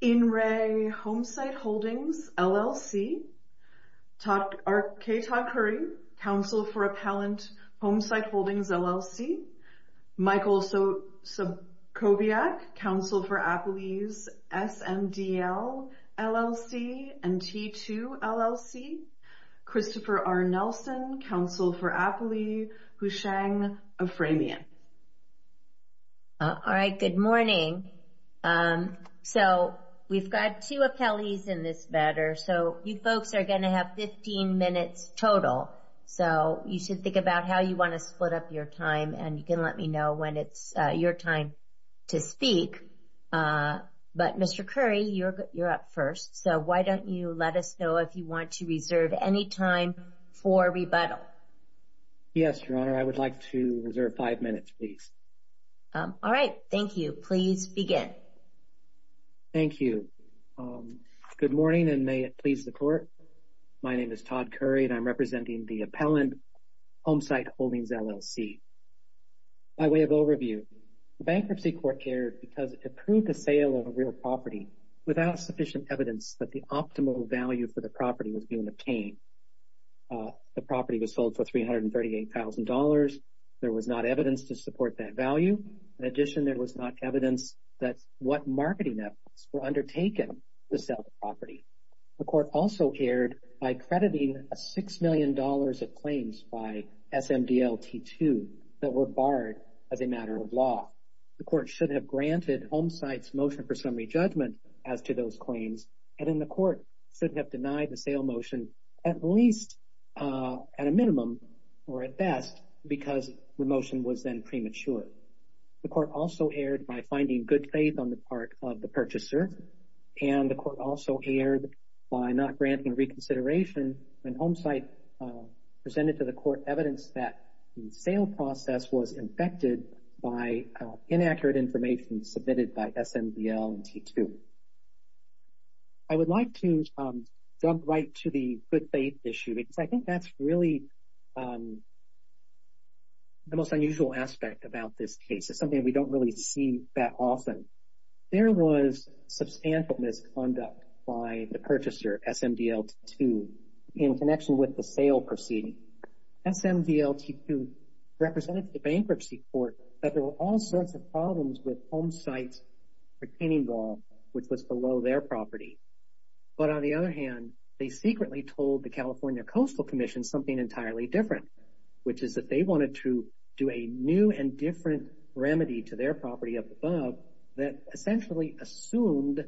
In re Homesite Holdings, LLC, K. Todd Curry, Counsel for Appellant Homesite Holdings, LLC, Michael Sobchowiak, Counsel for Appellees, SMDL, LLC, and T2, LLC, Christopher R. Nelson, Counsel for Appellee, Houshang Aframian. All right, good morning. So we've got two appellees in this matter, so you folks are going to have 15 minutes total. So you should think about how you want to split up your time, and you can let me know when it's your time to speak. But, Mr. Curry, you're up first. So why don't you let us know if you want to reserve any time for rebuttal? Yes, Your Honor, I would like to reserve five minutes, please. All right, thank you. Please begin. Thank you. Good morning, and may it please the Court. My name is Todd Curry, and I'm representing the Appellant Homesite Holdings, LLC. By way of overview, the Bankruptcy Court cared because it approved the sale of a real property without sufficient evidence that the optimal value for the property was being obtained. The property was sold for $338,000. There was not evidence to support that value. In addition, there was not evidence that what marketing efforts were undertaken to sell the property. The Court also cared by crediting $6 million of claims by SMDL T2 that were barred as a matter of law. The Court should have granted Homesite's motion for summary judgment as to those claims, and then the Court should have denied the sale motion at least at a minimum or at best because the motion was then premature. The Court also erred by finding good faith on the part of the purchaser, and the Court also erred by not granting reconsideration when Homesite presented to the Court evidence that the sale process was infected by inaccurate information submitted by SMDL T2. I would like to jump right to the good faith issue because I think that's really the most unusual aspect about this case. It's something we don't really see that often. There was substantial misconduct by the purchaser, SMDL T2, in connection with the sale proceeding. SMDL T2 represented to the Bankruptcy Court that there were all sorts of problems with Homesite's retaining wall, which was below their property. But on the other hand, they secretly told the California Coastal Commission something entirely different, which is that they wanted to do a new and different remedy to their property up above that essentially assumed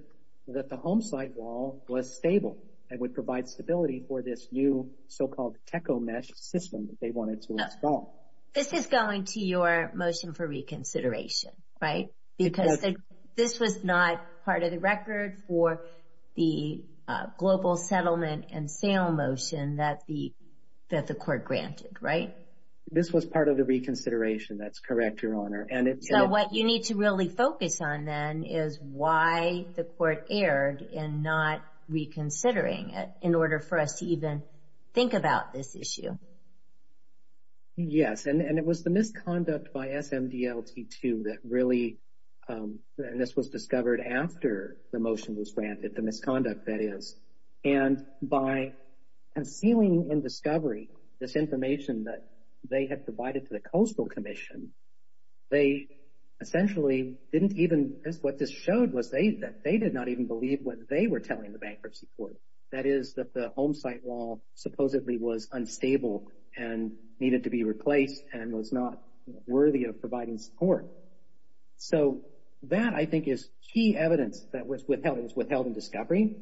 that the Homesite wall was stable and would provide stability for this new so-called techo-mesh system that they wanted to install. This is going to your motion for reconsideration, right? Because this was not part of the record for the global settlement and sale motion that the Court granted, right? This was part of the reconsideration. That's correct, Your Honor. So what you need to really focus on then is why the Court erred in not reconsidering it in order for us to even think about this issue. Yes, and it was the misconduct by SMDL T2 that really, and this was discovered after the motion was granted, the misconduct that is, and by concealing in discovery this information that they had provided to the Coastal Commission, they essentially didn't even, what this showed was that they did not even believe what they were telling the Bankruptcy Court. That is, that the Homesite wall supposedly was unstable and needed to be replaced and was not worthy of providing support. So that, I think, is key evidence that was withheld. It was withheld in discovery.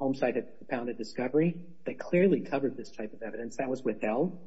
Homesite had propounded discovery that clearly covered this type of evidence. That was withheld.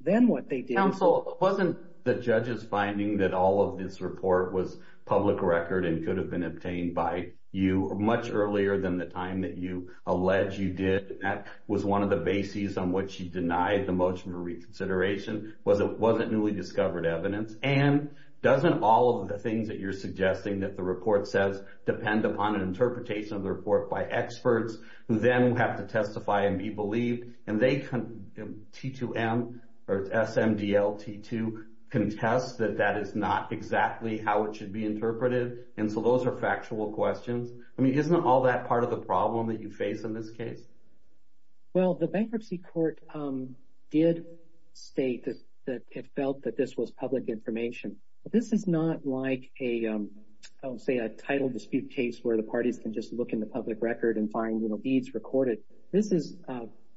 Then what they did— Counsel, wasn't the judges finding that all of this report was public record and could have been obtained by you much earlier than the time that you allege you did? That was one of the bases on which you denied the motion for reconsideration was it wasn't newly discovered evidence. And doesn't all of the things that you're suggesting that the report says depend upon an interpretation of the report by experts who then have to testify and be believed, and they, T2M or SMDL T2, contest that that is not exactly how it should be interpreted? And so those are factual questions. I mean, isn't all that part of the problem that you face in this case? Well, the Bankruptcy Court did state that it felt that this was public information. This is not like a, say, a title dispute case where the parties can just look in the public record and find, you know, deeds recorded. This is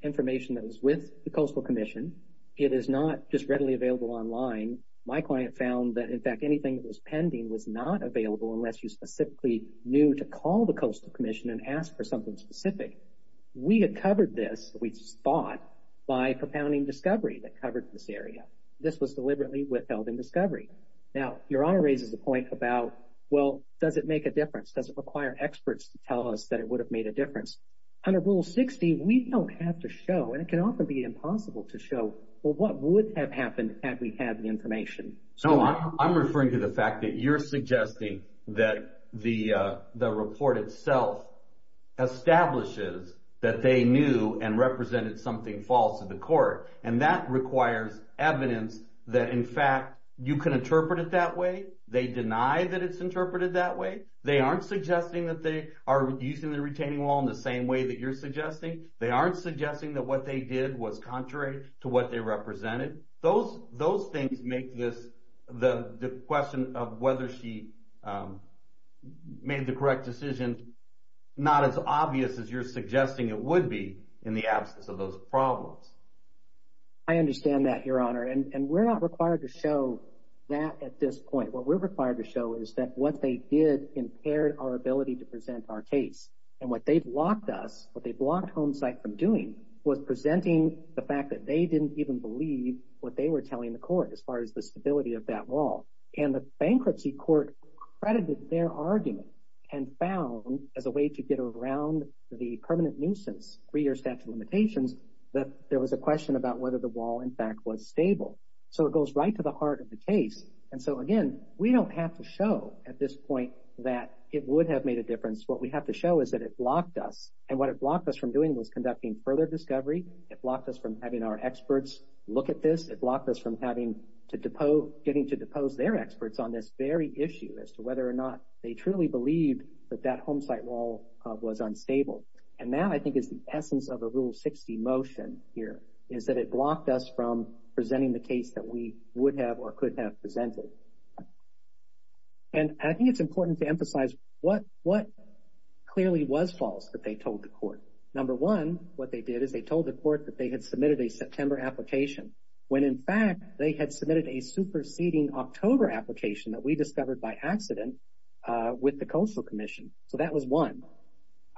information that was with the Coastal Commission. It is not just readily available online. My client found that, in fact, anything that was pending was not available unless you specifically knew to call the Coastal Commission and ask for something specific. We had covered this, we just thought, by propounding discovery that covered this area. This was deliberately withheld in discovery. Now, Your Honor raises the point about, well, does it make a difference? Does it require experts to tell us that it would have made a difference? Under Rule 60, we don't have to show, and it can often be impossible to show, well, what would have happened had we had the information. So I'm referring to the fact that you're suggesting that the report itself establishes that they knew and represented something false to the court. And that requires evidence that, in fact, you can interpret it that way. They deny that it's interpreted that way. They aren't suggesting that they are using the retaining wall in the same way that you're suggesting. They aren't suggesting that what they did was contrary to what they represented. Those things make the question of whether she made the correct decision not as obvious as you're suggesting it would be in the absence of those problems. I understand that, Your Honor, and we're not required to show that at this point. What we're required to show is that what they did impaired our ability to present our case. And what they blocked us, what they blocked Homesite from doing, was presenting the fact that they didn't even believe what they were telling the court as far as the stability of that wall. And the bankruptcy court credited their argument and found, as a way to get around the permanent nuisance three-year statute of limitations, that there was a question about whether the wall, in fact, was stable. So it goes right to the heart of the case. And so, again, we don't have to show at this point that it would have made a difference. What we have to show is that it blocked us, and what it blocked us from doing was conducting further discovery. It blocked us from having our experts look at this. It blocked us from getting to depose their experts on this very issue as to whether or not they truly believed that that Homesite wall was unstable. And that, I think, is the essence of the Rule 60 motion here, is that it blocked us from presenting the case that we would have or could have presented. And I think it's important to emphasize what clearly was false that they told the court. Number one, what they did is they told the court that they had submitted a September application when, in fact, they had submitted a superseding October application that we discovered by accident with the Coastal Commission. So that was one.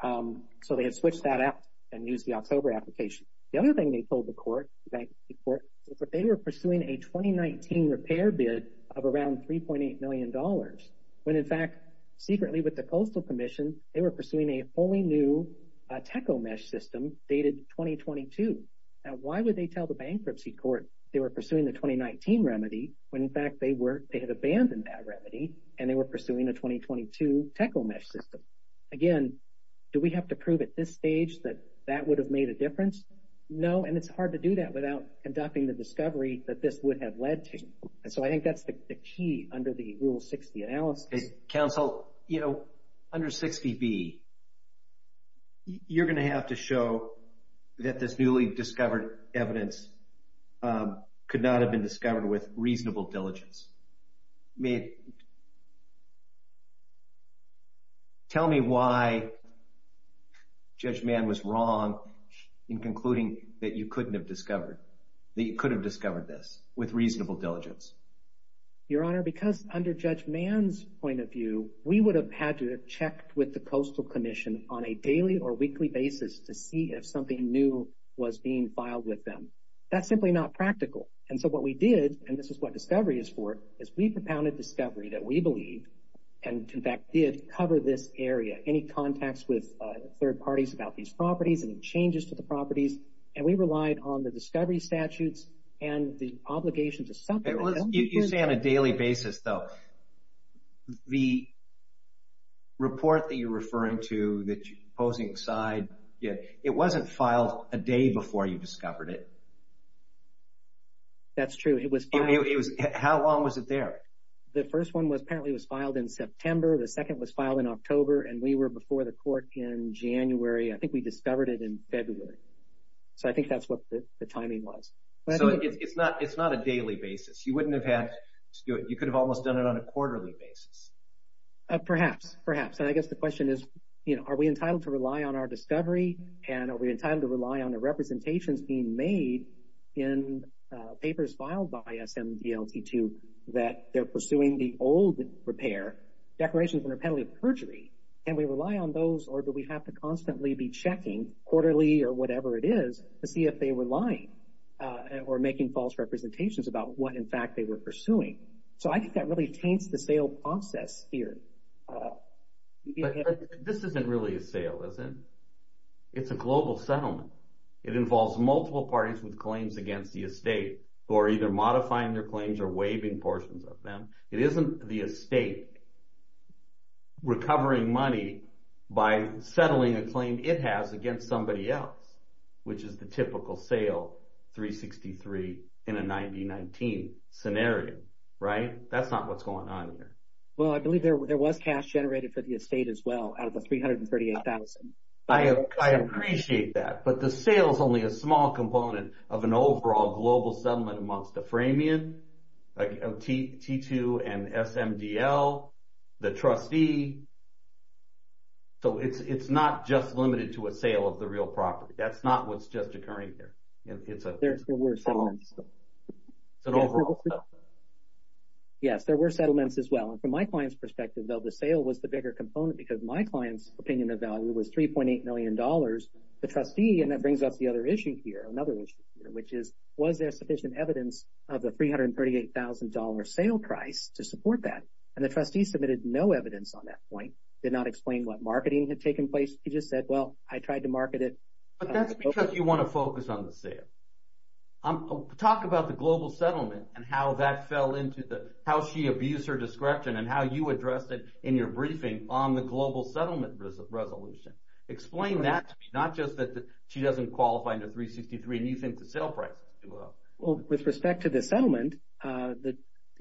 So they had switched that out and used the October application. The other thing they told the court, the bankruptcy court, is that they were pursuing a 2019 repair bid of around $3.8 million when, in fact, secretly with the Coastal Commission, they were pursuing a wholly new tech-o-mesh system dated 2022. Now, why would they tell the bankruptcy court they were pursuing the 2019 remedy when, in fact, they had abandoned that remedy and they were pursuing a 2022 tech-o-mesh system? Again, do we have to prove at this stage that that would have made a difference? No, and it's hard to do that without conducting the discovery that this would have led to. And so I think that's the key under the Rule 60 analysis. Counsel, you know, under 60B, you're going to have to show that this newly discovered evidence could not have been discovered with reasonable diligence. Tell me why Judge Mann was wrong in concluding that you couldn't have discovered, that you could have discovered this with reasonable diligence. Your Honor, because under Judge Mann's point of view, we would have had to have checked with the Coastal Commission on a daily or weekly basis to see if something new was being filed with them. That's simply not practical. And so what we did, and this is what discovery is for, is we propounded discovery that we believe and, in fact, did cover this area, any contacts with third parties about these properties and the changes to the properties. And we relied on the discovery statutes and the obligation to separate them. You say on a daily basis, though. The report that you're referring to that you're posing aside, it wasn't filed a day before you discovered it. That's true. How long was it there? The first one apparently was filed in September. The second was filed in October, and we were before the court in January. I think we discovered it in February. So I think that's what the timing was. So it's not a daily basis. You wouldn't have had to do it. You could have almost done it on a quarterly basis. Perhaps, perhaps. And I guess the question is, are we entitled to rely on our discovery, and are we entitled to rely on the representations being made in papers filed by SMDLT2 that they're pursuing the old repair, declarations under penalty of perjury? Can we rely on those, or do we have to constantly be checking quarterly or whatever it is to see if they were lying or making false representations about what, in fact, they were pursuing? So I think that really taints the sale process here. But this isn't really a sale, is it? It's a global settlement. It involves multiple parties with claims against the estate who are either modifying their claims or waiving portions of them. It isn't the estate recovering money by settling a claim it has against somebody else, which is the typical sale, 363, in a 90-19 scenario. That's not what's going on here. Well, I believe there was cash generated for the estate as well out of the $338,000. I appreciate that, but the sale is only a small component of an overall global settlement amongst the Framion, T2, and SMDL, the trustee. So it's not just limited to a sale of the real property. That's not what's just occurring here. There were settlements. It's an overall settlement. Yes, there were settlements as well, and from my client's perspective, though, the sale was the bigger component because my client's opinion of value was $3.8 million. The trustee, and that brings up the other issue here, another issue here, which is was there sufficient evidence of the $338,000 sale price to support that? And the trustee submitted no evidence on that point, did not explain what marketing had taken place. He just said, well, I tried to market it. But that's because you want to focus on the sale. Talk about the global settlement and how that fell into the – how she abused her discretion and how you addressed it in your briefing on the global settlement resolution. Explain that to me, not just that she doesn't qualify under 363 and you think the sale price is too low. Well, with respect to the settlement,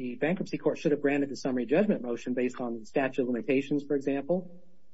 the bankruptcy court should have granted the summary judgment motion based on statute of limitations, for example.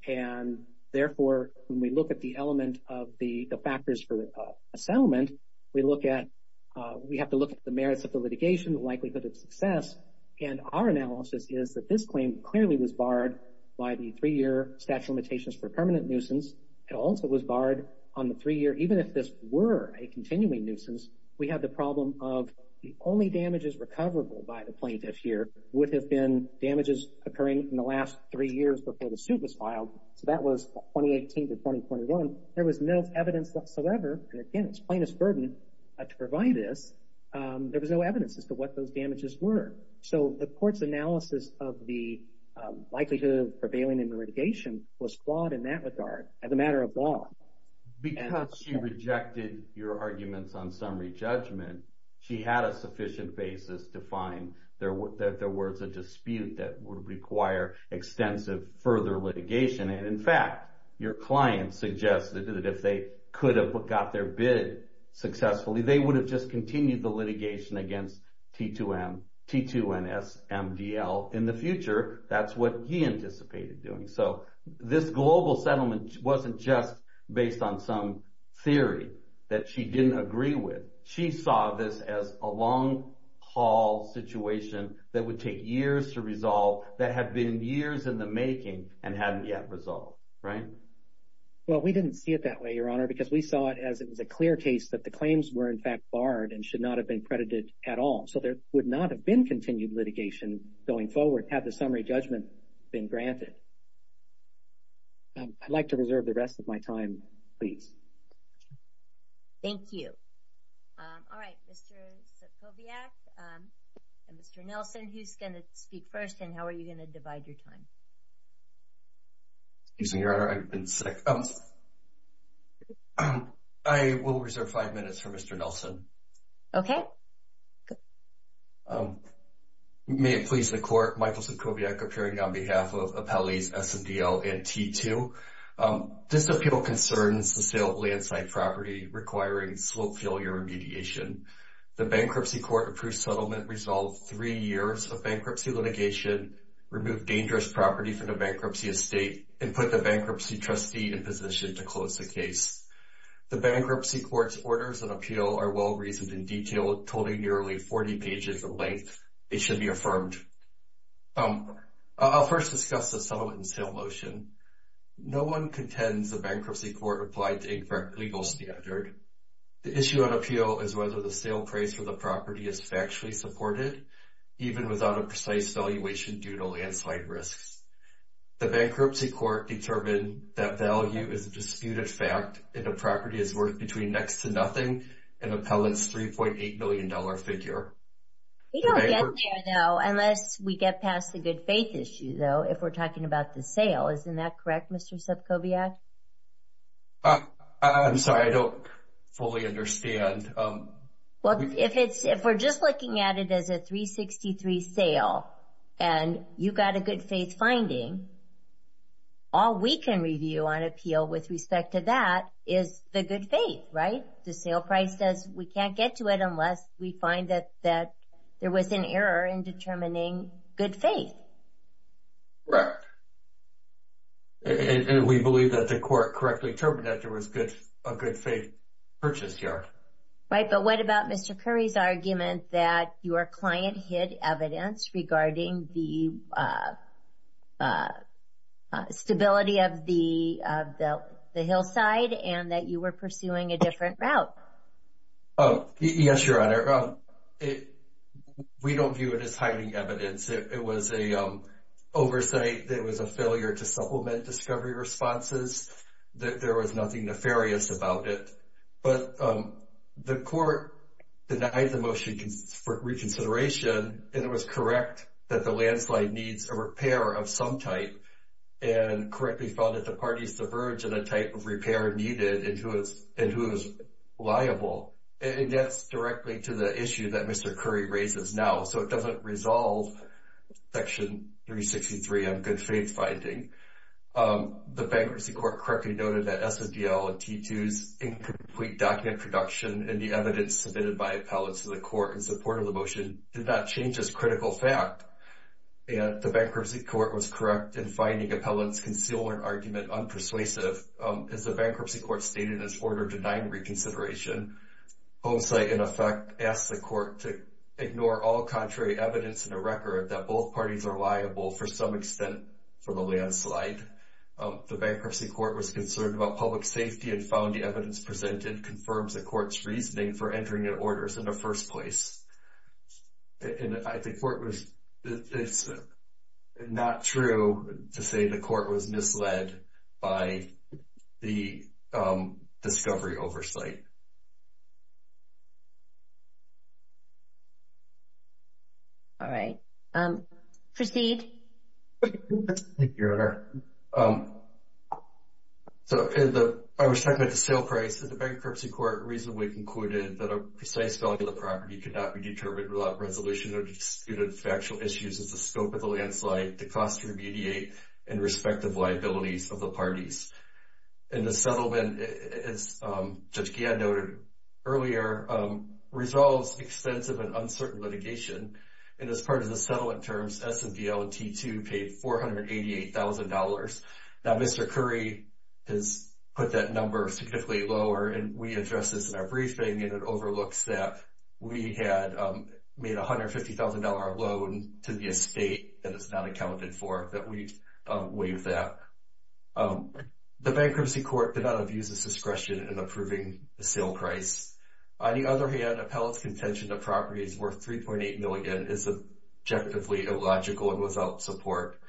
And therefore, when we look at the element of the factors for a settlement, we look at – we have to look at the merits of the litigation, the likelihood of success. And our analysis is that this claim clearly was barred by the three-year statute of limitations for permanent nuisance. It also was barred on the three-year – even if this were a continuing nuisance, we have the problem of the only damages recoverable by the plaintiff here would have been damages occurring in the last three years before the suit was signed. So that was 2018 to 2021. There was no evidence whatsoever, and again, it's plaintiff's burden to provide this. There was no evidence as to what those damages were. So the court's analysis of the likelihood of prevailing in the litigation was flawed in that regard as a matter of law. Because she rejected your arguments on summary judgment, she had a sufficient basis to find that there was a dispute that would require extensive further litigation. And in fact, your client suggested that if they could have got their bid successfully, they would have just continued the litigation against T2NSMDL in the future. That's what he anticipated doing. So this global settlement wasn't just based on some theory that she didn't agree with. She saw this as a long-haul situation that would take years to resolve that had been years in the making and hadn't yet resolved, right? Well, we didn't see it that way, Your Honor, because we saw it as it was a clear case that the claims were in fact barred and should not have been credited at all. So there would not have been continued litigation going forward had the summary judgment been granted. I'd like to reserve the rest of my time, please. Thank you. All right, Mr. Sokoviac and Mr. Nelson, who's going to speak first and how are you going to divide your time? Excuse me, Your Honor, I've been sick. I will reserve five minutes for Mr. Nelson. Okay. May it please the Court, Michael Sokoviac appearing on behalf of appellees SMDL and T2. This appeal concerns the sale of landslide property requiring slope failure remediation. The Bankruptcy Court-approved settlement resolved three years of bankruptcy litigation, removed dangerous property from the bankruptcy estate, and put the bankruptcy trustee in position to close the case. The Bankruptcy Court's orders of appeal are well-reasoned and detailed, totaling nearly 40 pages in length. They should be affirmed. I'll first discuss the settlement and sale motion. No one contends the Bankruptcy Court applied to a correct legal standard. The issue on appeal is whether the sale price for the property is factually supported, even without a precise valuation due to landslide risks. The Bankruptcy Court determined that value is a disputed fact and the property is worth between next to nothing and appellant's $3.8 million figure. We don't get there, though, unless we get past the good faith issue, though, if we're talking about the sale. Isn't that correct, Mr. Sokoviac? I'm sorry, I don't fully understand. Well, if we're just looking at it as a $3.63 sale and you've got a good faith finding, all we can review on appeal with respect to that is the good faith, right? The sale price says we can't get to it unless we find that there was an error in determining good faith. Correct. And we believe that the court correctly determined that there was a good faith purchase here. Right, but what about Mr. Curry's argument that your client hid evidence regarding the stability of the hillside and that you were pursuing a different route? Oh, yes, Your Honor. We don't view it as hiding evidence. It was an oversight. It was a failure to supplement discovery responses. There was nothing nefarious about it, but the court denied the motion for reconsideration and it was correct that the landslide needs a repair of some type and correctly found that the parties subverge on the type of repair needed and who is liable. It gets directly to the issue that Mr. Curry raises now, so it doesn't resolve Section 363 on good faith finding. The Bankruptcy Court correctly noted that SSDL and T2's incomplete document production and the evidence submitted by appellants to the court in support of the motion did not change this critical fact. The Bankruptcy Court was correct in finding appellants' concealment argument unpersuasive. As the Bankruptcy Court stated in its order denying reconsideration, Home Site, in effect, asked the court to ignore all contrary evidence in the record that both parties are liable for some extent for the landslide. The Bankruptcy Court was concerned about public safety and found the evidence presented confirms the court's reasoning for entering the orders in the first place. And I think it's not true to say the court was misled by the discovery oversight. All right. Proceed. Thank you, Your Honor. I was talking about the sale price and the Bankruptcy Court reasonably concluded that a precise value of the property could not be determined without resolution or disputed factual issues as the scope of the landslide, the cost to remediate, and respective liabilities of the parties. And the settlement, as Judge Gadd noted earlier, resolves extensive and uncertain litigation. And as part of the settlement terms, SSDL and T2 paid $488,000. Now, Mr. Curry has put that number significantly lower, and we address this in our briefing, and it overlooks that we had made a $150,000 loan to the estate that is not accounted for, that we've waived that. The Bankruptcy Court did not abuse its discretion in approving the sale price. On the other hand, appellate's contention that property is worth $3.8 million is objectively illogical and without support.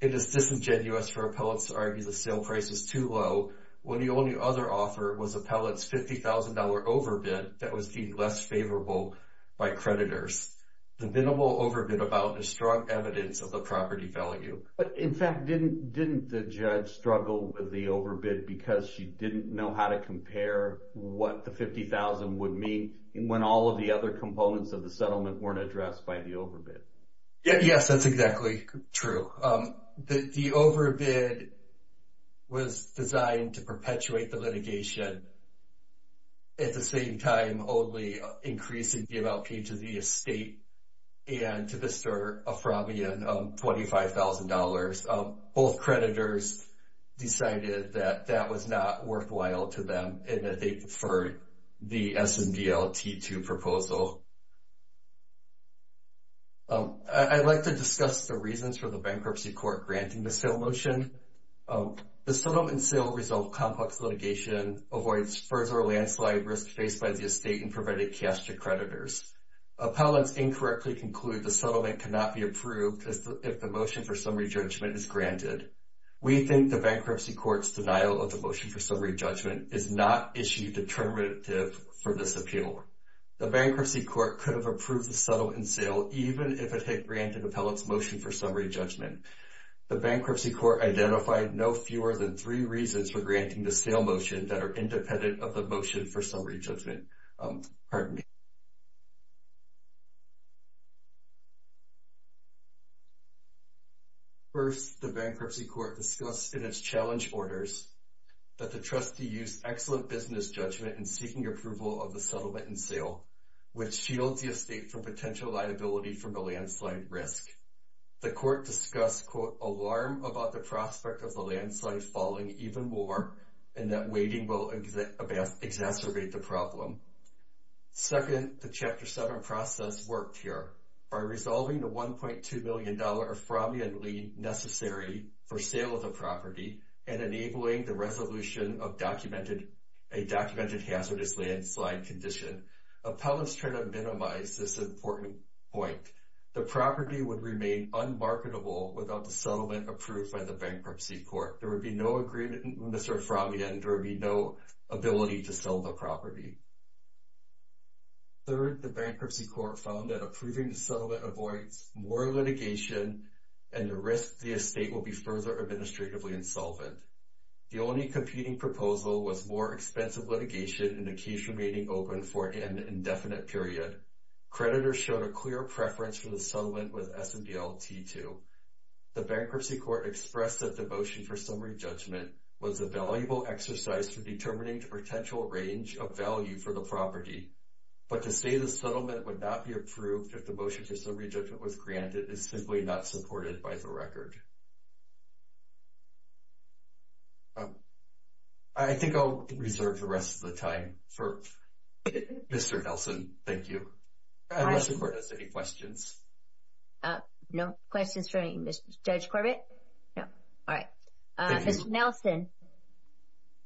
It is disingenuous for appellates to argue the sale price is too low when the only other offer was appellate's $50,000 overbid that was deemed less favorable by creditors. The minimal overbid about is strong evidence of the property value. But in fact, didn't the judge struggle with the overbid because she didn't know how to compare what the $50,000 would mean when all of the other components of the settlement weren't addressed by the overbid? Yes, that's exactly true. The overbid was designed to perpetuate the litigation. At the same time, only increasing the amount paid to the estate and to the Sir Aframian $25,000. Both creditors decided that that was not worthwhile to them and that they deferred the SMDL T2 proposal. I'd like to discuss the reasons for the bankruptcy court granting the sale motion. The settlement and sale resolve complex litigation, avoids further landslide risk faced by the estate and prevented cash to creditors. Appellants incorrectly conclude the settlement cannot be approved if the motion for summary judgment is granted. We think the bankruptcy court's denial of the motion for summary judgment is not issue determinative for this appeal. Therefore, the bankruptcy court could have approved the settlement and sale even if it had granted appellant's motion for summary judgment. The bankruptcy court identified no fewer than three reasons for granting the sale motion that are independent of the motion for summary judgment. First, the bankruptcy court discussed in its challenge orders that the trustee used excellent business judgment in seeking approval of the settlement and sale, which shields the estate from potential liability from the landslide risk. The court discussed, quote, alarm about the prospect of the landslide falling even more and that waiting will exacerbate the problem. Second, the Chapter 7 process worked here. By resolving the $1.2 million Aframian lien necessary for sale of the property and enabling the resolution of a documented hazardous landslide condition, appellants try to minimize this important point. The property would remain unmarketable without the settlement approved by the bankruptcy court. There would be no agreement in Mr. Aframian. There would be no ability to sell the property. Third, the bankruptcy court found that approving the settlement avoids more litigation and the risk the estate will be further administratively insolvent. The only competing proposal was more expensive litigation and the case remaining open for an indefinite period. Creditors showed a clear preference for the settlement with S&DL T2. The bankruptcy court expressed that the motion for summary judgment was a valuable exercise for determining the potential range of value for the property, but to say the settlement would not be approved if the motion for summary judgment was granted is simply not supported by the record. I think I'll reserve the rest of the time for Mr. Nelson. Thank you. I don't know if the court has any questions. No questions for any Mr. Judge Corbett? All right. Mr. Nelson.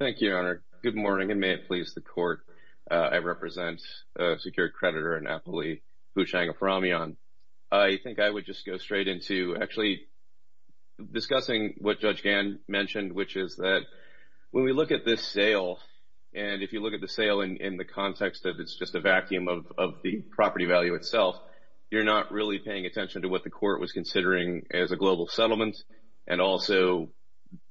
Thank you, Your Honor. Good morning and may it please the court. I represent a secured creditor in Napoli, Bhushang Aframian. I think I would just go straight into actually discussing what Judge Gann mentioned, which is that when we look at this sale, and if you look at the sale in the context that it's just a vacuum of the property value itself, you're not really paying attention to what the court was considering as a global settlement and also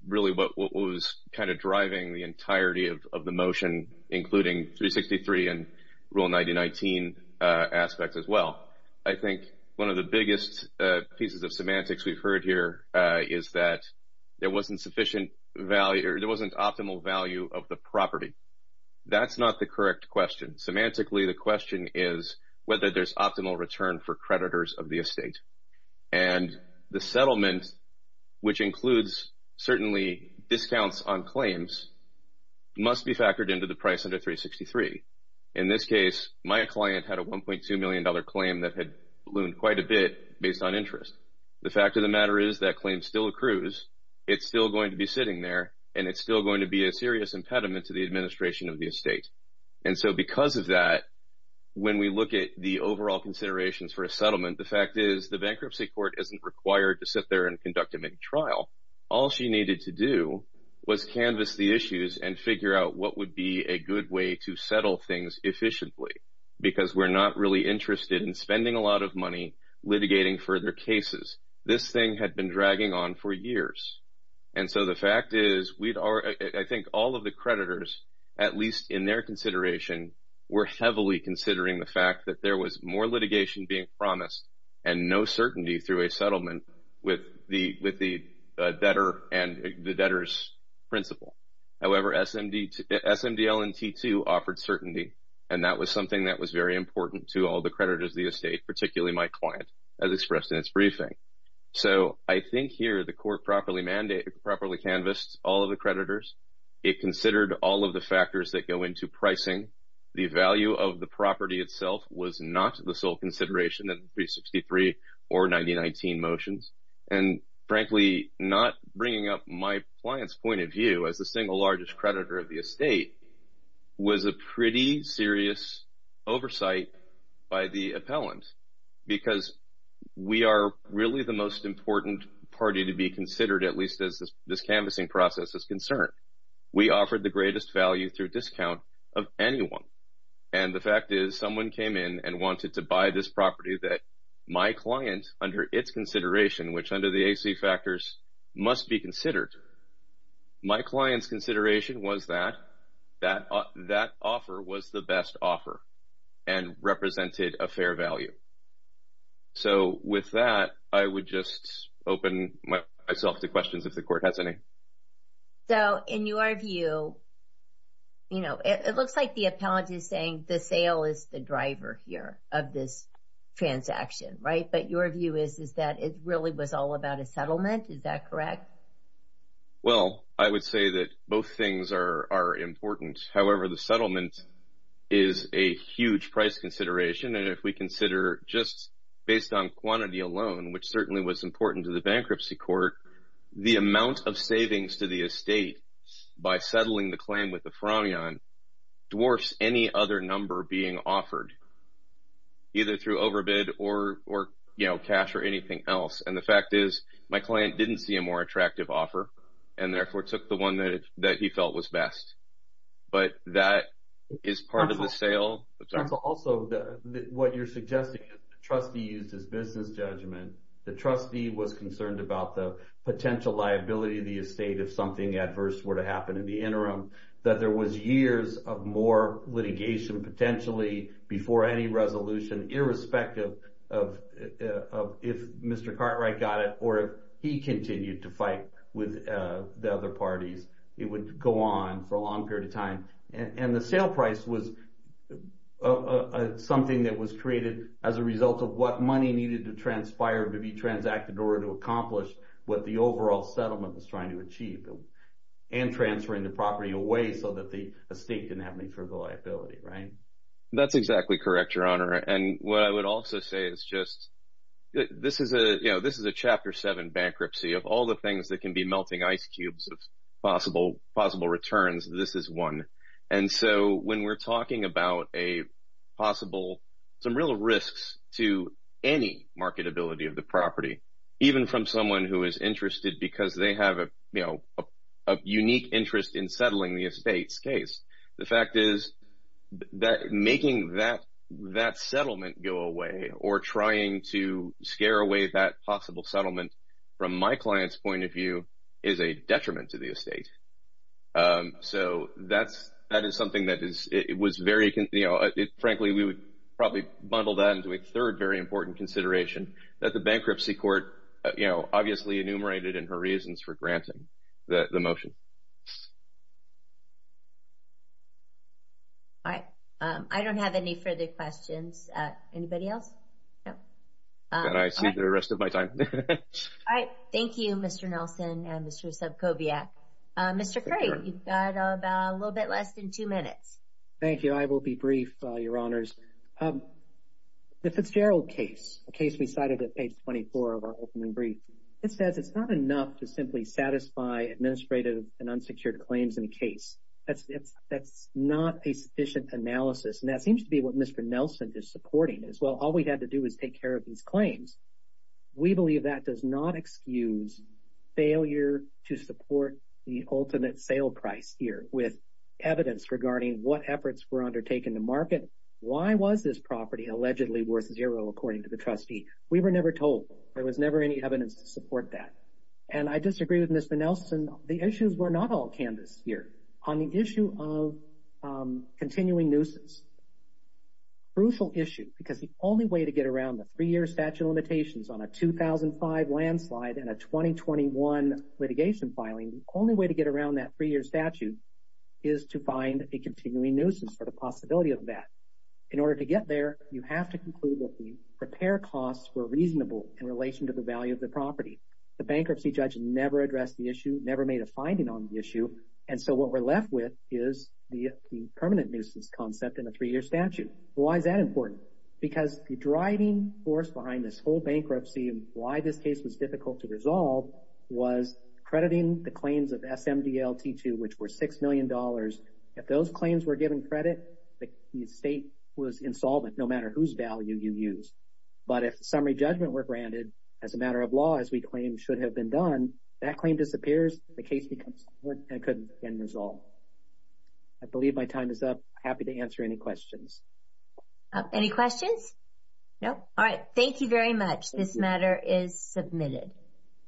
really what was kind of driving the entirety of the motion, including 363 and Rule 9019 aspects as well. I think one of the biggest pieces of semantics we've heard here is that there wasn't sufficient value or there wasn't optimal value of the property. That's not the correct question. Semantically, the question is whether there's optimal return for creditors of the estate. And the settlement, which includes certainly discounts on claims, must be factored into the price under 363. In this case, my client had a $1.2 million claim that had ballooned quite a bit based on interest. The fact of the matter is that claim still accrues. It's still going to be sitting there, and it's still going to be a serious impediment to the administration of the estate. And so because of that, when we look at the overall considerations for a settlement, the fact is the bankruptcy court isn't required to sit there and conduct a big trial. All she needed to do was canvas the issues and figure out what would be a good way to settle things efficiently because we're not really interested in spending a lot of money litigating further cases. This thing had been dragging on for years. And so the fact is I think all of the creditors, at least in their consideration, were heavily considering the fact that there was more litigation being promised and no certainty through a settlement with the debtor and the debtor's principal. However, SMDL and T2 offered certainty, and that was something that was very important to all the creditors of the estate, particularly my client, as expressed in its briefing. So I think here the court properly canvassed all of the creditors. It considered all of the factors that go into pricing. The value of the property itself was not the sole consideration of 363 or 9019 motions. And frankly, not bringing up my client's point of view as the single largest creditor of the estate was a pretty serious oversight by the appellant because we are really the most important party to be considered, at least as this canvassing process is concerned. We offered the greatest value through discount of anyone. And the fact is someone came in and wanted to buy this property that my client, under its consideration, which under the AC factors must be considered, my client's consideration was that that offer was the best offer and represented a fair value. So with that, I would just open myself to questions if the court has any. So in your view, you know, it looks like the appellant is saying the sale is the driver here of this transaction, right? But your view is that it really was all about a settlement. Is that correct? Well, I would say that both things are important. However, the settlement is a huge price consideration. And if we consider just based on quantity alone, which certainly was important to the bankruptcy court, the amount of savings to the estate by settling the claim with the Framion dwarfs any other number being offered either through overbid or, you know, cash or anything else. And the fact is my client didn't see a more attractive offer and therefore took the one that he felt was best. But that is part of the sale. Counsel, also what you're suggesting is the trustee used his business judgment. The trustee was concerned about the potential liability of the estate if something adverse were to happen in the interim, that there was years of more litigation potentially before any resolution, irrespective of if Mr. Cartwright got it or if he continued to fight with the other parties. It would go on for a long period of time. And the sale price was something that was created as a result of what money needed to transpire, to be transacted in order to accomplish what the overall settlement was trying to achieve and transferring the property away so that the estate didn't have any further liability, right? That's exactly correct, Your Honor. And what I would also say is just, you know, this is a Chapter 7 bankruptcy of all the things that can be melting ice cubes of possible returns. This is one. And so when we're talking about some real risks to any marketability of the property, even from someone who is interested because they have a unique interest in settling the estate's case, the fact is that making that settlement go away or trying to scare away that possible settlement from my client's point of view is a detriment to the estate. So that is something that was very, you know, frankly we would probably bundle that into a third very important consideration that the bankruptcy court, you know, obviously enumerated in her reasons for granting the motion. All right. I don't have any further questions. Anybody else? Then I see the rest of my time. All right. Thank you, Mr. Nelson and Mr. Subcobiak. Mr. Craig, you've got about a little bit less than two minutes. Thank you. I will be brief, Your Honors. The Fitzgerald case, a case we cited at page 24 of our opening brief, it says it's not enough to simply satisfy administrative and unsecured claims in a case. That's not a sufficient analysis. And that seems to be what Mr. Nelson is supporting is, well, all we had to do is take care of these claims. We believe that does not excuse failure to support the ultimate sale price here with evidence regarding what efforts were undertaken to market. Why was this property allegedly worth zero, according to the trustee? We were never told. There was never any evidence to support that. And I disagree with Mr. Nelson. The issues were not all canvassed here. On the issue of continuing nuisance, crucial issue, because the only way to get around the three-year statute of limitations on a 2005 landslide and a 2021 litigation filing, the only way to get around that three-year statute is to find a continuing nuisance for the possibility of that. In order to get there, you have to conclude that the repair costs were reasonable in relation to the value of the property. The bankruptcy judge never addressed the issue, never made a finding on the issue. And so what we're left with is the permanent nuisance concept in a three-year statute. Why is that important? Because the driving force behind this whole bankruptcy and why this case was difficult to resolve was crediting the claims of SMDL-T2, which were $6 million. If those claims were given credit, the estate was insolvent no matter whose value you used. But if the summary judgment were granted, as a matter of law, as we claim should have been done, that claim disappears, the case becomes court, and it couldn't be resolved. I believe my time is up. Happy to answer any questions. Any questions? No? All right. Thank you very much. This matter is submitted.